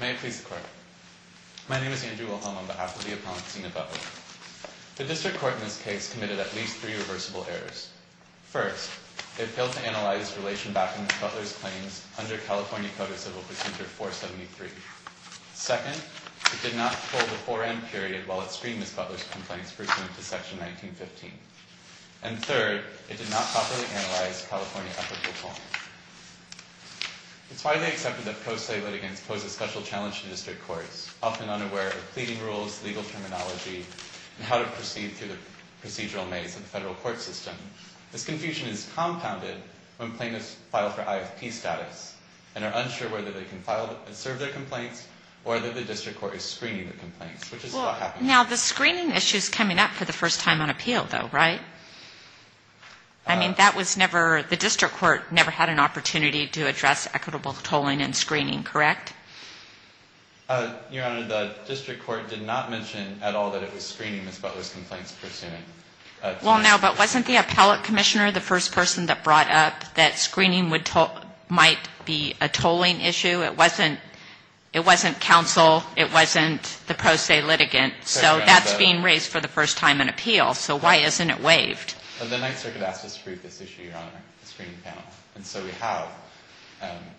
May it please the Court. My name is Andrew Wilhelm on behalf of the Appellant's Zina Butler. The District Court in this case committed at least three reversible errors. First, it failed to analyze relation back to Ms. Butler's claims under California Code of Civil Procedure 473. Second, it did not uphold the 4M period while it screened Ms. Butler's complaints pursuant to Section 1915. And third, it did not properly analyze California Appellate's report. It's why they accepted that pro se litigants pose a special challenge to district courts, often unaware of pleading rules, legal terminology, and how to proceed through the procedural maze of the federal court system. This confusion is compounded when plaintiffs file for IFP status and are unsure whether they can file and serve their complaints or that the district court is screening the complaints, which is what happened. Well, now the screening issue is coming up for the first time on appeal, though, right? I mean, that was never, the district court never had an opportunity to address equitable tolling and screening, correct? Your Honor, the district court did not mention at all that it was screening Ms. Butler's complaints pursuant to Section 1915. Well, now, but wasn't the appellate commissioner the first person that brought up that screening would, might be a tolling issue? It wasn't, it wasn't counsel, it wasn't the pro se litigant. So that's being raised for the first time on appeal, so why isn't it waived? The Ninth Circuit asked us to brief this issue, Your Honor, the screening panel, and so we have.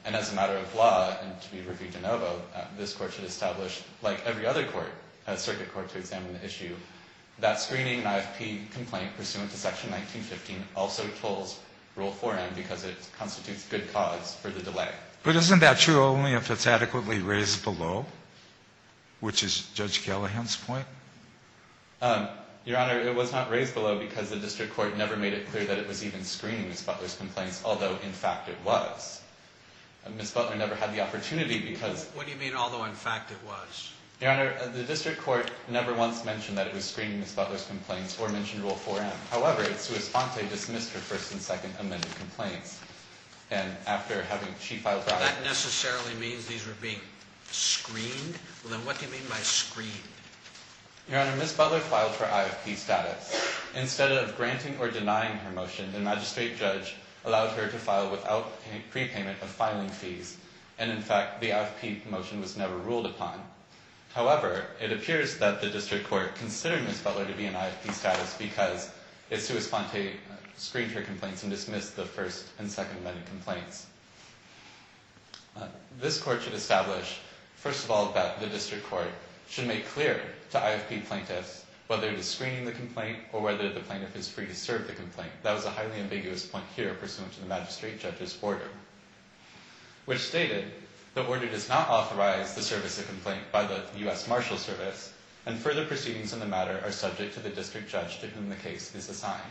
And as a matter of law, and to be reviewed in OVO, this court should establish, like every other court, a circuit court to examine the issue, that screening an IFP complaint pursuant to Section 1915 also tolls Rule 4M because it constitutes good cause for the delay. But isn't that true only if it's adequately raised below, which is Judge Gellaghan's point? Your Honor, it was not raised below because the district court never made it clear that it was even screening Ms. Butler's complaints, although, in fact, it was. Ms. Butler never had the opportunity because... What do you mean, although, in fact, it was? Your Honor, the district court never once mentioned that it was screening Ms. Butler's complaints or mentioned Rule 4M. However, it's to his fault they dismissed her first and second amended complaints. And after having she filed... That necessarily means these were being screened? Well, then what do you mean by screened? Your Honor, Ms. Butler filed for IFP status. Instead of granting or denying her motion, the magistrate judge allowed her to file without prepayment of filing fees. And, in fact, the IFP motion was never ruled upon. However, it appears that the district court considered Ms. Butler to be in IFP status because it's to his fault they screened her complaints and dismissed the first and second amended complaints. This court should establish, first of all, that the district court should make clear to IFP plaintiffs whether it is screening the complaint or whether the plaintiff is free to serve the complaint. That was a highly ambiguous point here, pursuant to the magistrate judge's order, which stated the order does not authorize the service of complaint by the U.S. Marshal Service and further proceedings in the matter are subject to the district judge to whom the case is assigned.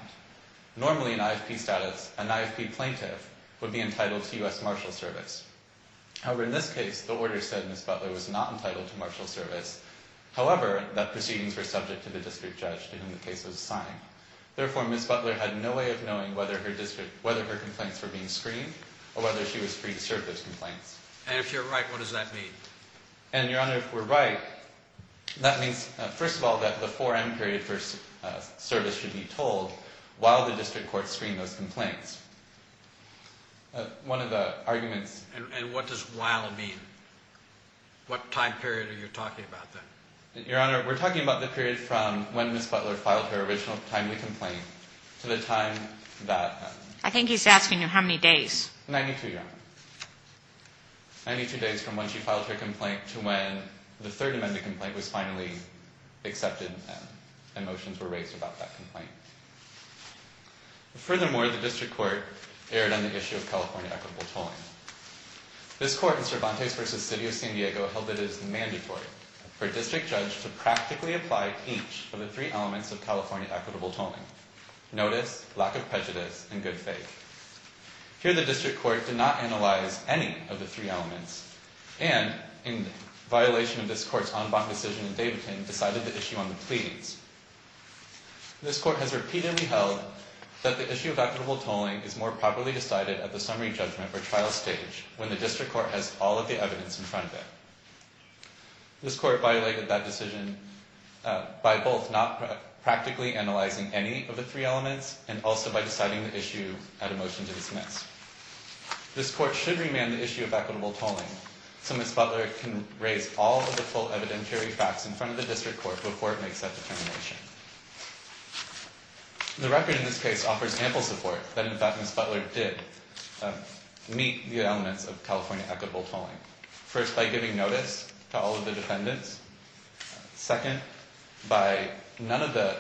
Normally, in IFP status, an IFP plaintiff would be entitled to U.S. Marshal Service. However, in this case, the order said Ms. Butler was not entitled to Marshal Service, however, that proceedings were subject to the district judge to whom the case was assigned. Therefore, Ms. Butler had no way of knowing whether her complaints were being screened or whether she was free to serve those complaints. And if you're right, what does that mean? And, Your Honor, if we're right, that means, first of all, that the 4M period for service should be told while the district court screened those complaints. One of the arguments... And what does while mean? What time period are you talking about then? Your Honor, we're talking about the period from when Ms. Butler filed her original timely complaint to the time that... I think he's asking you how many days. 92, Your Honor. 92 days from when she filed her complaint to when the Third Amendment complaint was finally accepted and motions were raised about that complaint. Furthermore, the district court erred on the issue of California equitable tolling. This court in Cervantes v. City of San Diego held that it is mandatory for a district judge to practically apply each of the three elements of California equitable tolling, notice, lack of prejudice, and good faith. Here, the district court did not analyze any of the three elements and, in violation of this court's en banc decision in Davidson, decided the issue on the pleadings. This court has repeatedly held that the issue of equitable tolling is more properly decided at the summary judgment or trial stage when the district court has all of the evidence in front of it. This court violated that decision by both not practically analyzing any of the three elements and also by deciding the issue at a motion to dismiss. This court should remand the issue of equitable tolling so Ms. Butler can raise all of the full evidentiary facts in front of the district court before it makes that determination. The record in this case offers ample support that, in fact, Ms. Butler did meet the elements of California equitable tolling. First, by giving notice to all of the defendants. Second, by none of the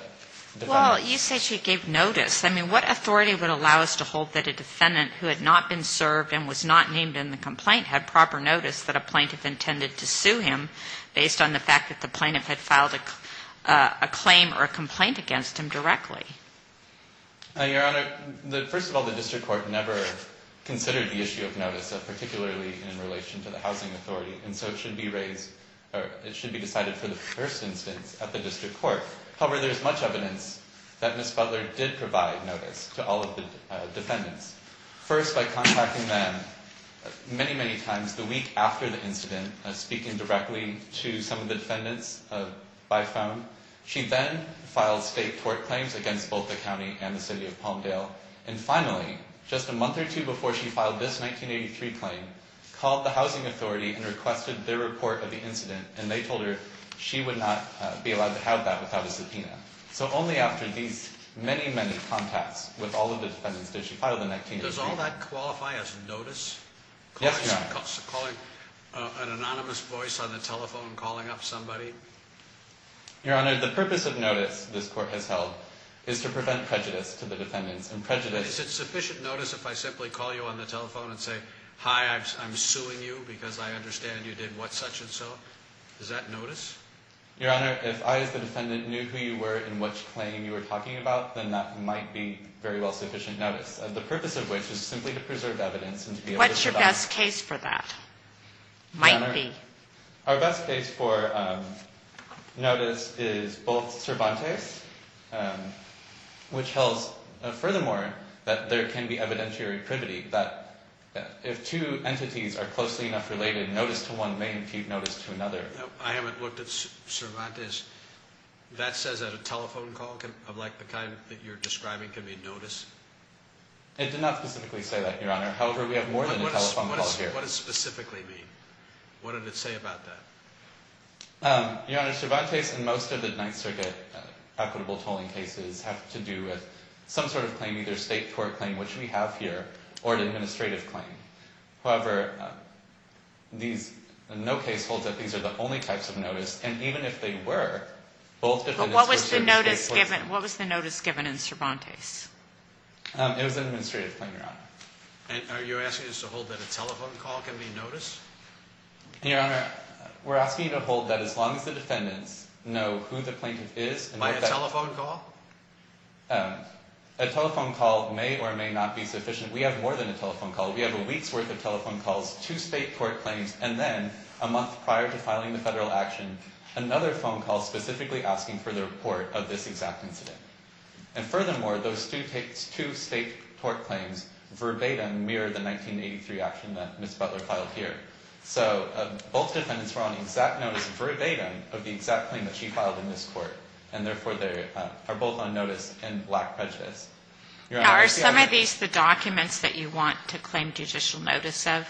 defendants. Well, you said she gave notice. I mean, what authority would allow us to hold that a defendant who had not been served and was not named in the complaint had proper notice that a plaintiff intended to sue him based on the fact that the plaintiff had filed a claim or a complaint against him directly? Your Honor, first of all, the district court never considered the issue of notice, particularly in relation to the housing authority, and so it should be decided for the first instance at the district court. However, there is much evidence that Ms. Butler did provide notice to all of the defendants. First, by contacting them many, many times the week after the incident, speaking directly to some of the defendants by phone. She then filed state court claims against both the county and the city of Palmdale. And finally, just a month or two before she filed this 1983 claim, called the housing authority and requested their report of the incident, and they told her she would not be allowed to have that without a subpoena. So only after these many, many contacts with all of the defendants did she file the 1983 claim. Does all that qualify as notice? Yes, Your Honor. An anonymous voice on the telephone calling up somebody? Your Honor, the purpose of notice this court has held is to prevent prejudice to the defendants. Is it sufficient notice if I simply call you on the telephone and say, hi, I'm suing you because I understand you did what such and so? Is that notice? Your Honor, if I as the defendant knew who you were and which claim you were talking about, then that might be very well sufficient notice. The purpose of which is simply to preserve evidence and to be able to provide it. What's your best case for that? Might be. Your Honor, our best case for notice is both Cervantes, which tells, furthermore, that there can be evidentiary privity, that if two entities are closely enough related, notice to one may impede notice to another. I haven't looked at Cervantes. That says that a telephone call of the kind that you're describing can be notice? It did not specifically say that, Your Honor. However, we have more than a telephone call here. What does specifically mean? What did it say about that? Your Honor, Cervantes and most of the Ninth Circuit equitable tolling cases have to do with some sort of claim, either a state court claim, which we have here, or an administrative claim. However, no case holds that these are the only types of notice, and even if they were, both defendants would serve state courts. What was the notice given in Cervantes? It was an administrative claim, Your Honor. Are you asking us to hold that a telephone call can be notice? Your Honor, we're asking you to hold that as long as the defendants know who the plaintiff is. By a telephone call? A telephone call may or may not be sufficient. We have more than a telephone call. We have a week's worth of telephone calls, two state court claims, and then a month prior to filing the federal action, another phone call specifically asking for the report of this exact incident. And furthermore, those two state court claims verbatim mirror the 1983 action that Ms. Butler filed here. So both defendants were on exact notice verbatim of the exact claim that she filed in this court, and therefore they are both on notice and lack prejudice. Are some of these the documents that you want to claim judicial notice of?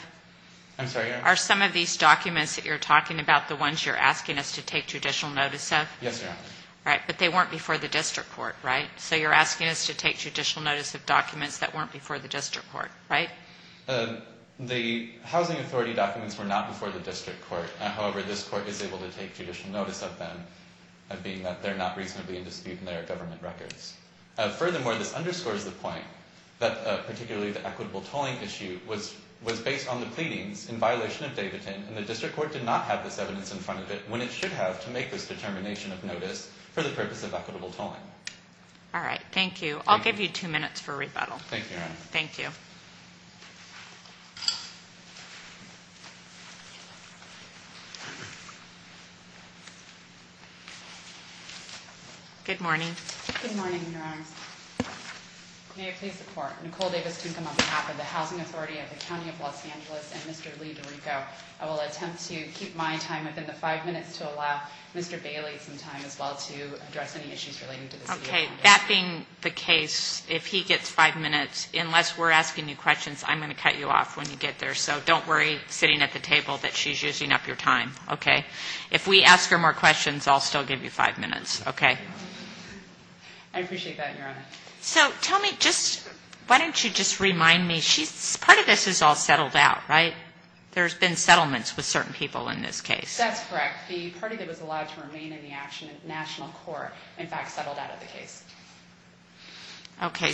I'm sorry, Your Honor? Are some of these documents that you're talking about the ones you're asking us to take judicial notice of? Yes, Your Honor. But they weren't before the district court, right? So you're asking us to take judicial notice of documents that weren't before the district court, right? The housing authority documents were not before the district court. However, this court is able to take judicial notice of them, being that they're not reasonably in dispute in their government records. Furthermore, this underscores the point that particularly the equitable tolling issue was based on the pleadings in violation of Davidson, and the district court did not have this evidence in front of it when it should have to make this determination of notice for the purpose of equitable tolling. All right. Thank you. I'll give you two minutes for rebuttal. Thank you, Your Honor. Thank you. Good morning. Good morning, Your Honor. May I please report? Nicole Davis-Kincombe on behalf of the Housing Authority of the County of Los Angeles and Mr. Lee DiRico. I will attempt to keep my time within the five minutes to allow Mr. Bailey some time as well to address any issues relating to the city of Congress. Okay. That being the case, if he gets five minutes, unless we're asking you questions, I'm going to cut you off when you get there. So don't worry, sitting at the table, that she's using up your time. Okay? If we ask her more questions, I'll still give you five minutes. Okay? I appreciate that, Your Honor. So tell me, just, why don't you just remind me, she's, part of this is all settled out, right? There's been settlements with certain people in this case. That's correct. The party that was allowed to remain in the action in the national court, in fact, settled out of the case.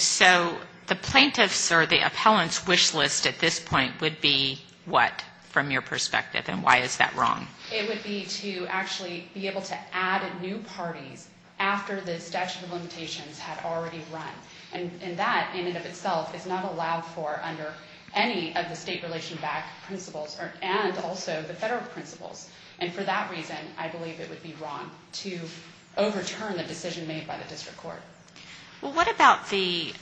So the plaintiffs or the appellants' wish list at this point would be what, from your perspective, and why is that wrong? It would be to actually be able to add new parties after the statute of limitations had already run. And that, in and of itself, is not allowed for under any of the state relation back principles, and also the federal principles. And for that reason, I believe it would be wrong to overturn the decision made by the district court. Well, what about the,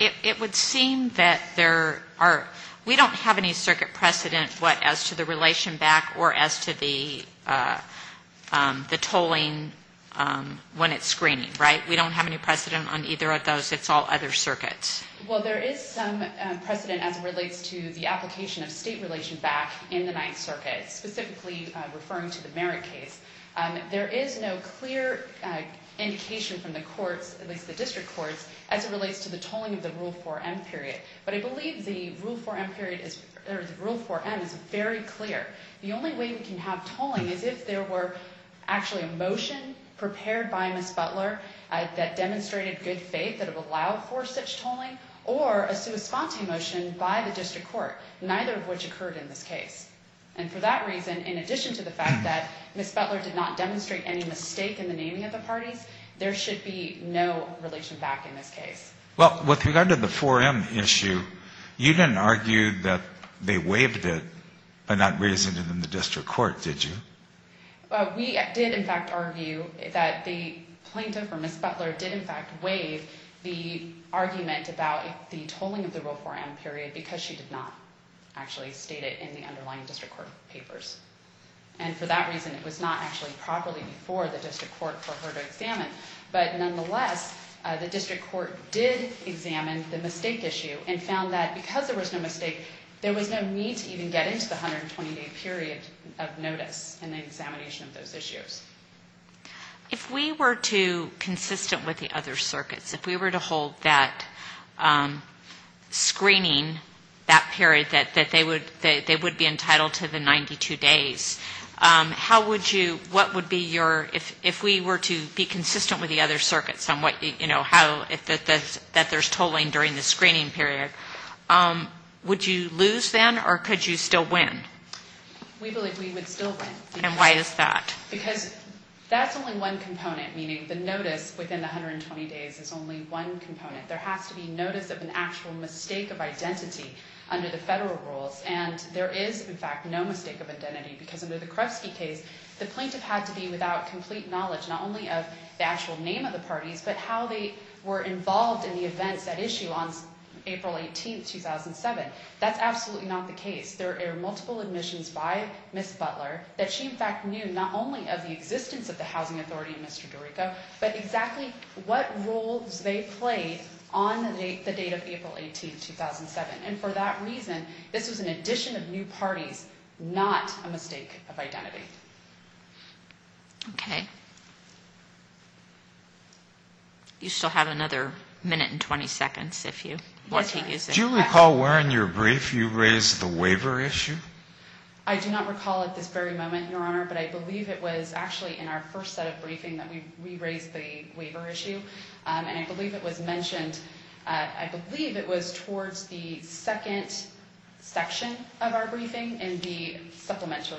it would seem that there are, we don't have any circuit precedent, what, as to the relation back or as to the tolling when it's screening, right? We don't have any precedent on either of those. It's all other circuits. Well, there is some precedent as it relates to the application of state relation back in the Ninth Circuit, specifically referring to the Merritt case. There is no clear indication from the courts, at least the district courts, as it relates to the tolling of the Rule 4M period. But I believe the Rule 4M period is, or the Rule 4M is very clear. The only way we can have tolling is if there were actually a motion prepared by Ms. Butler that demonstrated good faith that it would allow for such tolling, or a sui sponte motion by the district court, neither of which occurred in this case. And for that reason, in addition to the fact that Ms. Butler did not demonstrate any mistake in the naming of the parties, there should be no relation back in this case. Well, with regard to the 4M issue, you didn't argue that they waived it for that reason in the district court, did you? We did, in fact, argue that the plaintiff, or Ms. Butler, did, in fact, waive the argument about the tolling of the Rule 4M period because she did not actually state it in the underlying district court papers. And for that reason, it was not actually properly before the district court for her to examine. But nonetheless, the district court did examine the mistake issue and found that because there was no mistake, there was no need to even get into the 120-day period of notice in the examination of those issues. If we were to, consistent with the other circuits, if we were to hold that screening, that period that they would be entitled to the 92 days, how would you, what would be your, if we were to be consistent with the other circuits on what, you know, how, that there's tolling during the screening period, would you lose then, or could you still win? We believe we would still win. And why is that? Because that's only one component, meaning the notice within the 120 days is only one component. There has to be notice of an actual mistake of identity under the federal rules. And there is, in fact, no mistake of identity because under the Krefsky case, the plaintiff had to be without complete knowledge, not only of the actual name of the parties, but how they were involved in the events at issue on April 18, 2007. That's absolutely not the case. There are multiple admissions by Ms. Butler that she, in fact, knew not only of the existence of the Housing Authority and Mr. Dorico, but exactly what roles they played on the date of April 18, 2007. And for that reason, this was an addition of new parties, not a mistake of identity. Okay. You still have another minute and 20 seconds if you want to use it. Do you recall where in your brief you raised the waiver issue? I do not recall at this very moment, Your Honor, but I believe it was actually in our first set of briefing that we raised the waiver issue. And I believe it was mentioned, I believe it was towards the second section of our briefing in the supplemental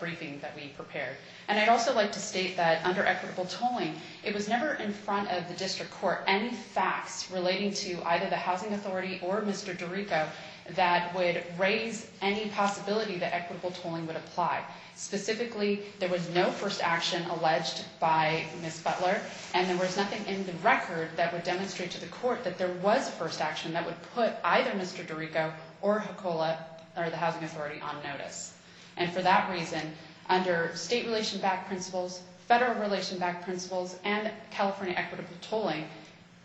briefing that we prepared. And I'd also like to state that under equitable tolling, it was never in front of the district court any facts relating to either the Housing Authority or Mr. Dorico that would raise any possibility that equitable tolling would apply. Specifically, there was no first action alleged by Ms. Butler, and there was nothing in the record that would demonstrate to the court that there was a first action that would put either Mr. Dorico or the Housing Authority on notice. And for that reason, under state relation-backed principles, federal relation-backed principles, and California equitable tolling,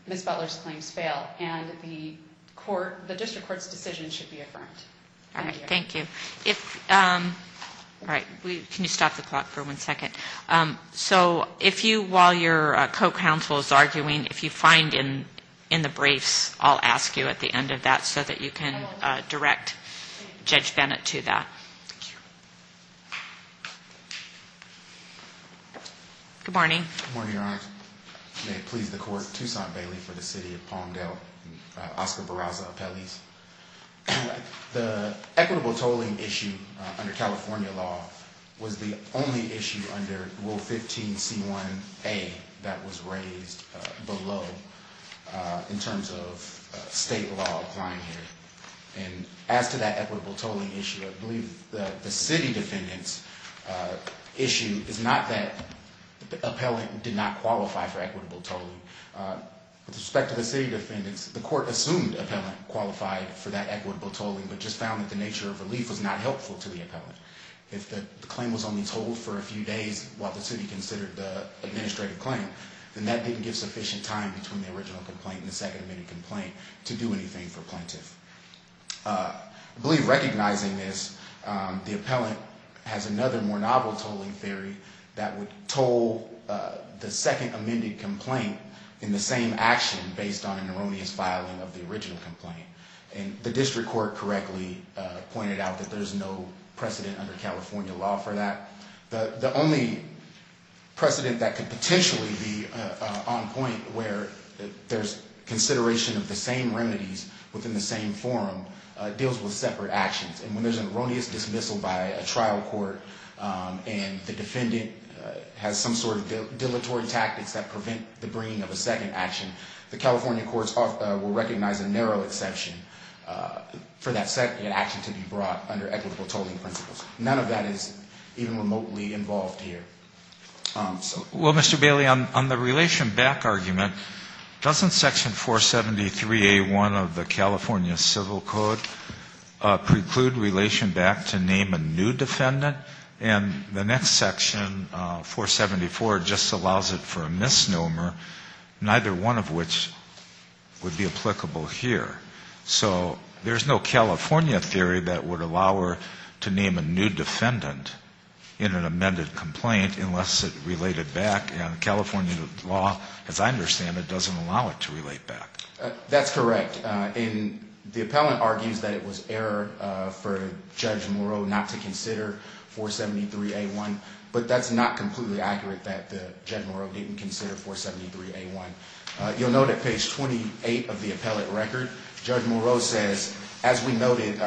Ms. Butler's claims fail. And the court, the district court's decision should be affirmed. All right. Thank you. All right. Can you stop the clock for one second? So if you, while your co-counsel is arguing, if you find in the briefs, I'll ask you at the end of that so that you can direct Judge Bennett to that. Thank you. Good morning. Good morning, Your Honor. May it please the court. Toussaint Bailey for the City of Palmdale. Oscar Barraza, appellees. The equitable tolling issue under California law was the only issue under Rule 15c1a that was raised below in terms of state law applying here. And as to that equitable tolling issue, I believe the city defendant's issue is not that the appellant did not qualify for equitable tolling. With respect to the city defendants, the court assumed appellant qualified for that equitable tolling, but just found that the nature of relief was not helpful to the appellant. If the claim was only tolled for a few days while the city considered the administrative claim, then that didn't give sufficient time between the original complaint and the second amended complaint to do anything for plaintiff. I believe recognizing this, the appellant has another more novel tolling theory that would toll the second amended complaint in the same action based on an erroneous filing of the original complaint. And the district court correctly pointed out that there's no precedent under California law for that. The only precedent that could potentially be on point where there's consideration of the same remedies within the same forum deals with separate actions. And when there's an erroneous dismissal by a trial court and the defendant has some sort of dilatory tactics that prevent the bringing of a second action, the California courts will recognize a narrow exception for that second action to be brought under equitable tolling principles. None of that is even remotely involved here. So... Well, Mr. Bailey, on the relation back argument, doesn't section 473A1 of the California Civil Code preclude relation back to name a new defendant? And the next section, 474, just allows it for a misnomer, neither one of which would be applicable here. So there's no California theory that would allow her to name a new defendant in an amended complaint unless it related back. And California law, as I understand it, doesn't allow it to relate back. That's correct. And the appellant argues that it was error for Judge Moreau not to consider 473A1. But that's not completely accurate that Judge Moreau didn't consider 473A1. You'll note at page 28 of the appellate record, Judge Moreau says, as we noted,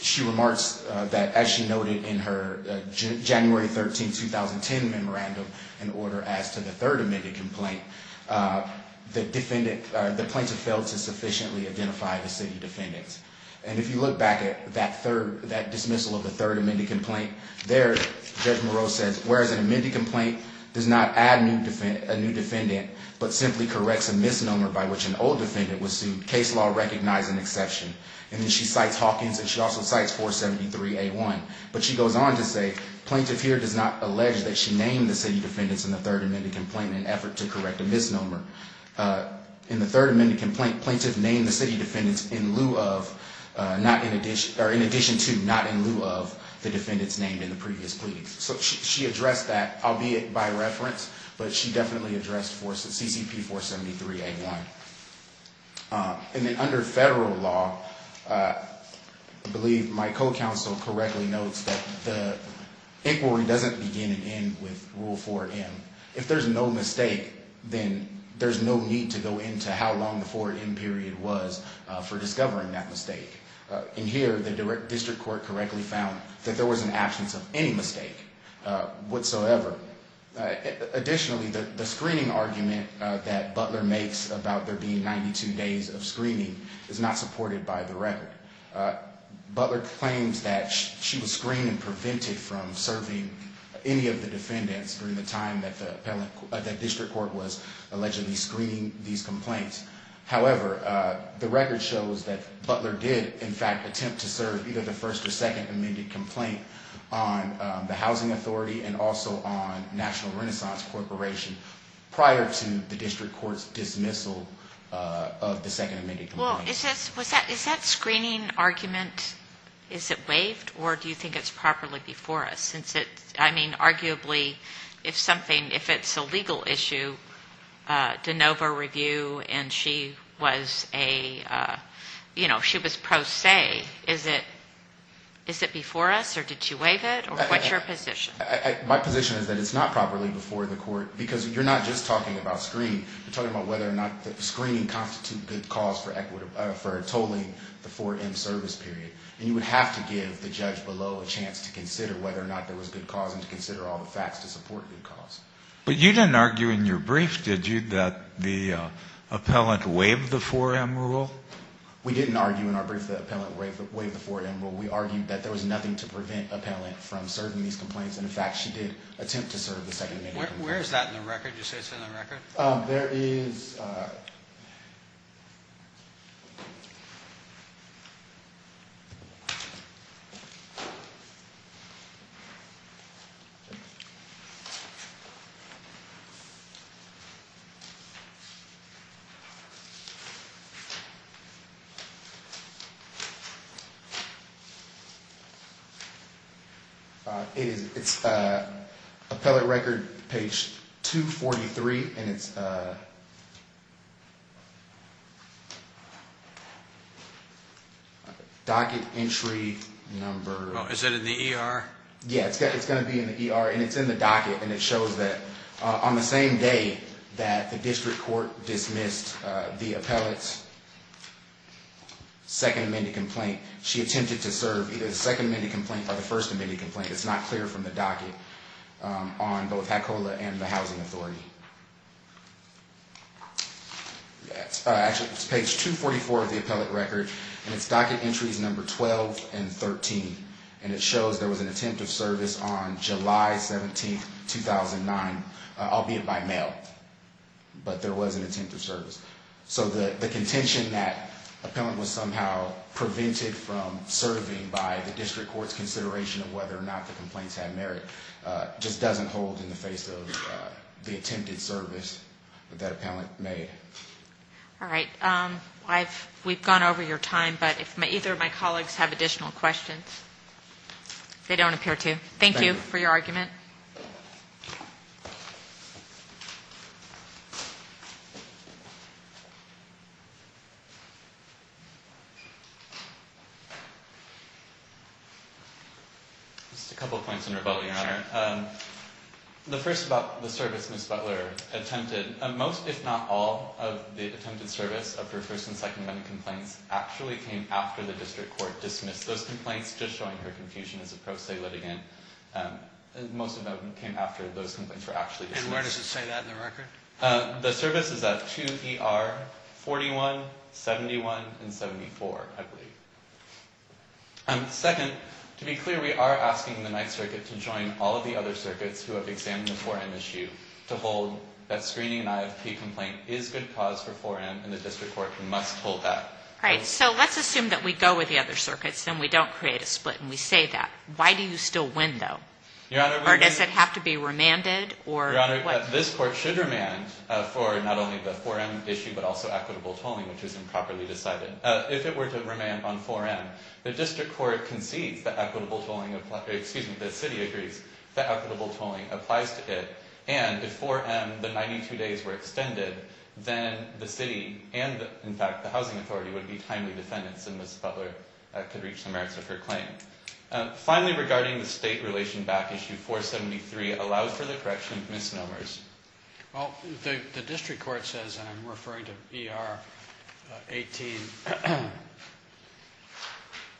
she remarks that as she noted in her January 13, 2010 memorandum, an order as to the third amended complaint, the defendant, the plaintiff failed to sufficiently identify the city defendants. And if you look back at that third, that dismissal of the third amended complaint, there, Judge Moreau says, whereas an amended complaint does not add a new defendant, but simply corrects a misnomer by which an old defendant was sued, case law recognized an exception. And then she cites Hawkins, and she also cites 473A1. But she goes on to say, plaintiff here does not allege that she named the city defendants in the third amended complaint in an effort to correct a misnomer. In the third amended complaint, plaintiff named the city defendants in lieu of, not in addition, or in addition to, not in lieu of the defendants named in the previous plea. So she addressed that, albeit by reference, but she definitely addressed for CCP 473A1. And then under federal law, I believe my co-counsel correctly notes that the inquiry doesn't begin and end with Rule 4M. If there's no mistake, then there's no need to go into how long the 4M period was for discovering that mistake. In here, the district court correctly found that there was an absence of any mistake whatsoever. Additionally, the screening argument that Butler makes about there being 92 days of screening is not supported by the record. Butler claims that she was screened and prevented from serving any of the defendants during the time that the district court was allegedly screening these complaints. However, the record shows that Butler did, in fact, attempt to serve either the first or second amended complaint on the housing authority and also on National Renaissance Corporation prior to the district court's dismissal of the second amended complaint. Well, is that screening argument, is it waived, or do you think it's properly before us? Since it's, I mean, arguably, if something, if it's a legal issue, DeNova Review and she was a, you know, she was pro se, is it before us, or did she waive it, or what's your position? My position is that it's not properly before the court, because you're not just talking about screening. You're talking about whether or not the screening constitute good cause for tolling the 4M service period. And you would have to give the judge below a chance to consider whether or not there was good cause and to consider all the facts to support good cause. But you didn't argue in your brief, did you, that the appellant waived the 4M rule? We didn't argue in our brief that the appellant waived the 4M rule. We argued that there was nothing to prevent the appellant from serving these complaints, and, in fact, she did attempt to serve the second amended complaint. Where is that in the record? Did you say it's in the record? There is. It is. Docket entry number. Oh, is that in the ER? Yeah, it's going to be in the ER, and it's in the docket, and it shows that on the same day that the district court dismissed the appellant's second amended complaint, she attempted to serve either the second amended complaint or the first amended complaint. It's not clear from the docket on both HACOLA and the Housing Authority. Actually, it's page 244 of the appellant record, and it's docket entries number 12 and 13, and it shows there was an attempt of service on July 17, 2009, albeit by mail. But there was an attempt of service. So the contention that the appellant was somehow prevented from serving by the district court's consideration of whether or not the complaints had merit just doesn't hold in the face of the attempted service that the appellant made. All right. We've gone over your time, but if either of my colleagues have additional questions, they don't appear to. Thank you for your argument. Just a couple of points in rebuttal, Your Honor. The first about the service Ms. Butler attempted, most if not all of the attempted service of her first and second amended complaints actually came after the district court dismissed those complaints, just showing her confusion as a pro se litigant. Most of them came after those complaints were actually dismissed. And where does it say that in the record? The service is at 2ER 41, 71, and 74, I believe. Second, to be clear, we are asking the Ninth Circuit to join all of the other circuits who have examined the 4M issue to hold that screening an IFP complaint is good cause for 4M, and the district court must hold that. All right. So let's assume that we go with the other circuits, then we don't create a split, and we say that. Why do you still win, though? Or does it have to be remanded? Your Honor, this court should remand for not only the 4M issue, but also equitable tolling, which is improperly decided. If it were to remand on 4M, the district court concedes that equitable tolling, excuse me, the city agrees that equitable tolling applies to it. And if 4M, the 92 days were extended, then the city and, in fact, the housing authority would be timely defendants and Ms. Butler could reach the merits of her claim. Finally, regarding the state relation back issue, 473 allows for the correction of misnomers. Well, the district court says, and I'm referring to ER 18,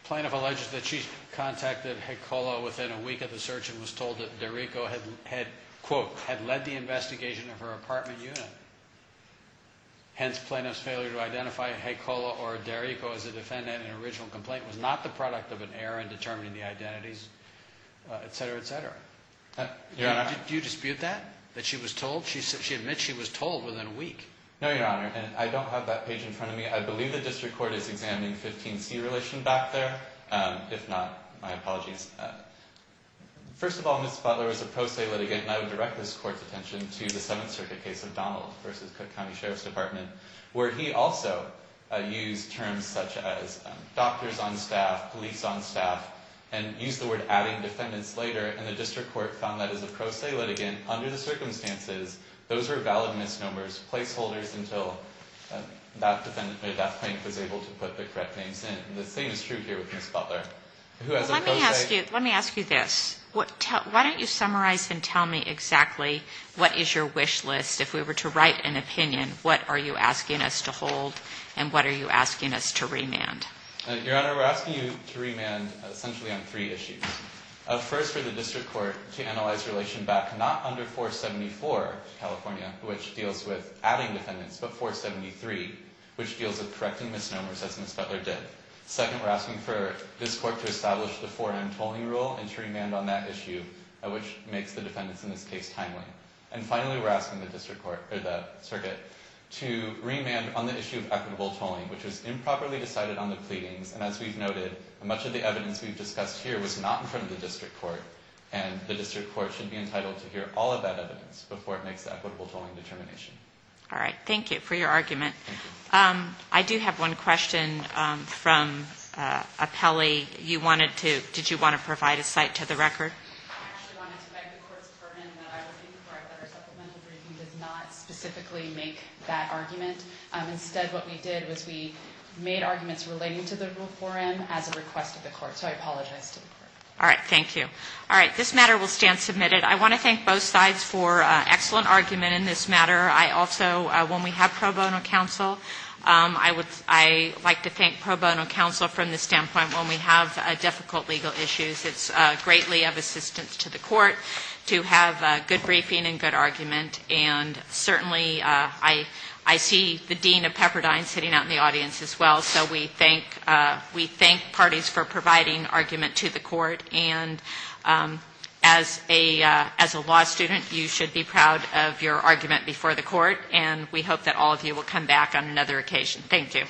plaintiff alleges that she contacted Hecola within a week of the search and was told that Derrico had, quote, had led the investigation of her apartment unit. Hence, plaintiff's failure to identify Hecola or Derrico as a defendant in an original complaint was not the product of an error in determining the identities, et cetera, et cetera. Your Honor. Do you dispute that, that she was told? She admits she was told within a week. No, Your Honor, and I don't have that page in front of me. I believe the district court is examining 15C relation back there. If not, my apologies. First of all, Ms. Butler is a pro se litigant, and I would direct this court's attention to the Seventh Circuit case of Donald v. Cook County Sheriff's Department, where he also used terms such as doctors on staff, police on staff, and used the word adding defendants later, and the district court found that as a pro se litigant, under the circumstances, those were valid misnomers, placeholders until that plaintiff was able to put the correct names in. The same is true here with Ms. Butler, who has a pro se. Let me ask you this. Why don't you summarize and tell me exactly what is your wish list? If we were to write an opinion, what are you asking us to hold, and what are you asking us to remand? Your Honor, we're asking you to remand essentially on three issues. First, for the district court to analyze relation back not under 474 California, which deals with adding defendants, but 473, which deals with correcting misnomers, as Ms. Butler did. Second, we're asking for this court to establish the 4M tolling rule and to remand on that issue, which makes the defendants in this case timely. And finally, we're asking the circuit to remand on the issue of equitable tolling, which was improperly decided on the pleadings, and as we've noted, much of the evidence we've discussed here was not in front of the district court, and the district court should be entitled to hear all of that evidence before it makes the equitable tolling determination. All right. Thank you for your argument. I do have one question from a Pelley. You wanted to – did you want to provide a cite to the record? I actually wanted to beg the court's pardon that I was looking for a better supplemental brief, and did not specifically make that argument. Instead, what we did was we made arguments relating to the rule 4M as a request of the court, so I apologize to the court. All right. Thank you. All right. This matter will stand submitted. I want to thank both sides for excellent argument in this matter. I also, when we have pro bono counsel, I would – I like to thank pro bono counsel from the standpoint when we have difficult legal issues, it's greatly of assistance to the court to have good briefing and good argument, and certainly I see the Dean of Pepperdine sitting out in the audience as well, so we thank parties for providing argument to the court, and as a law student, you should be proud of your argument before the court, and we hope that all of you will come back on another occasion. Thank you.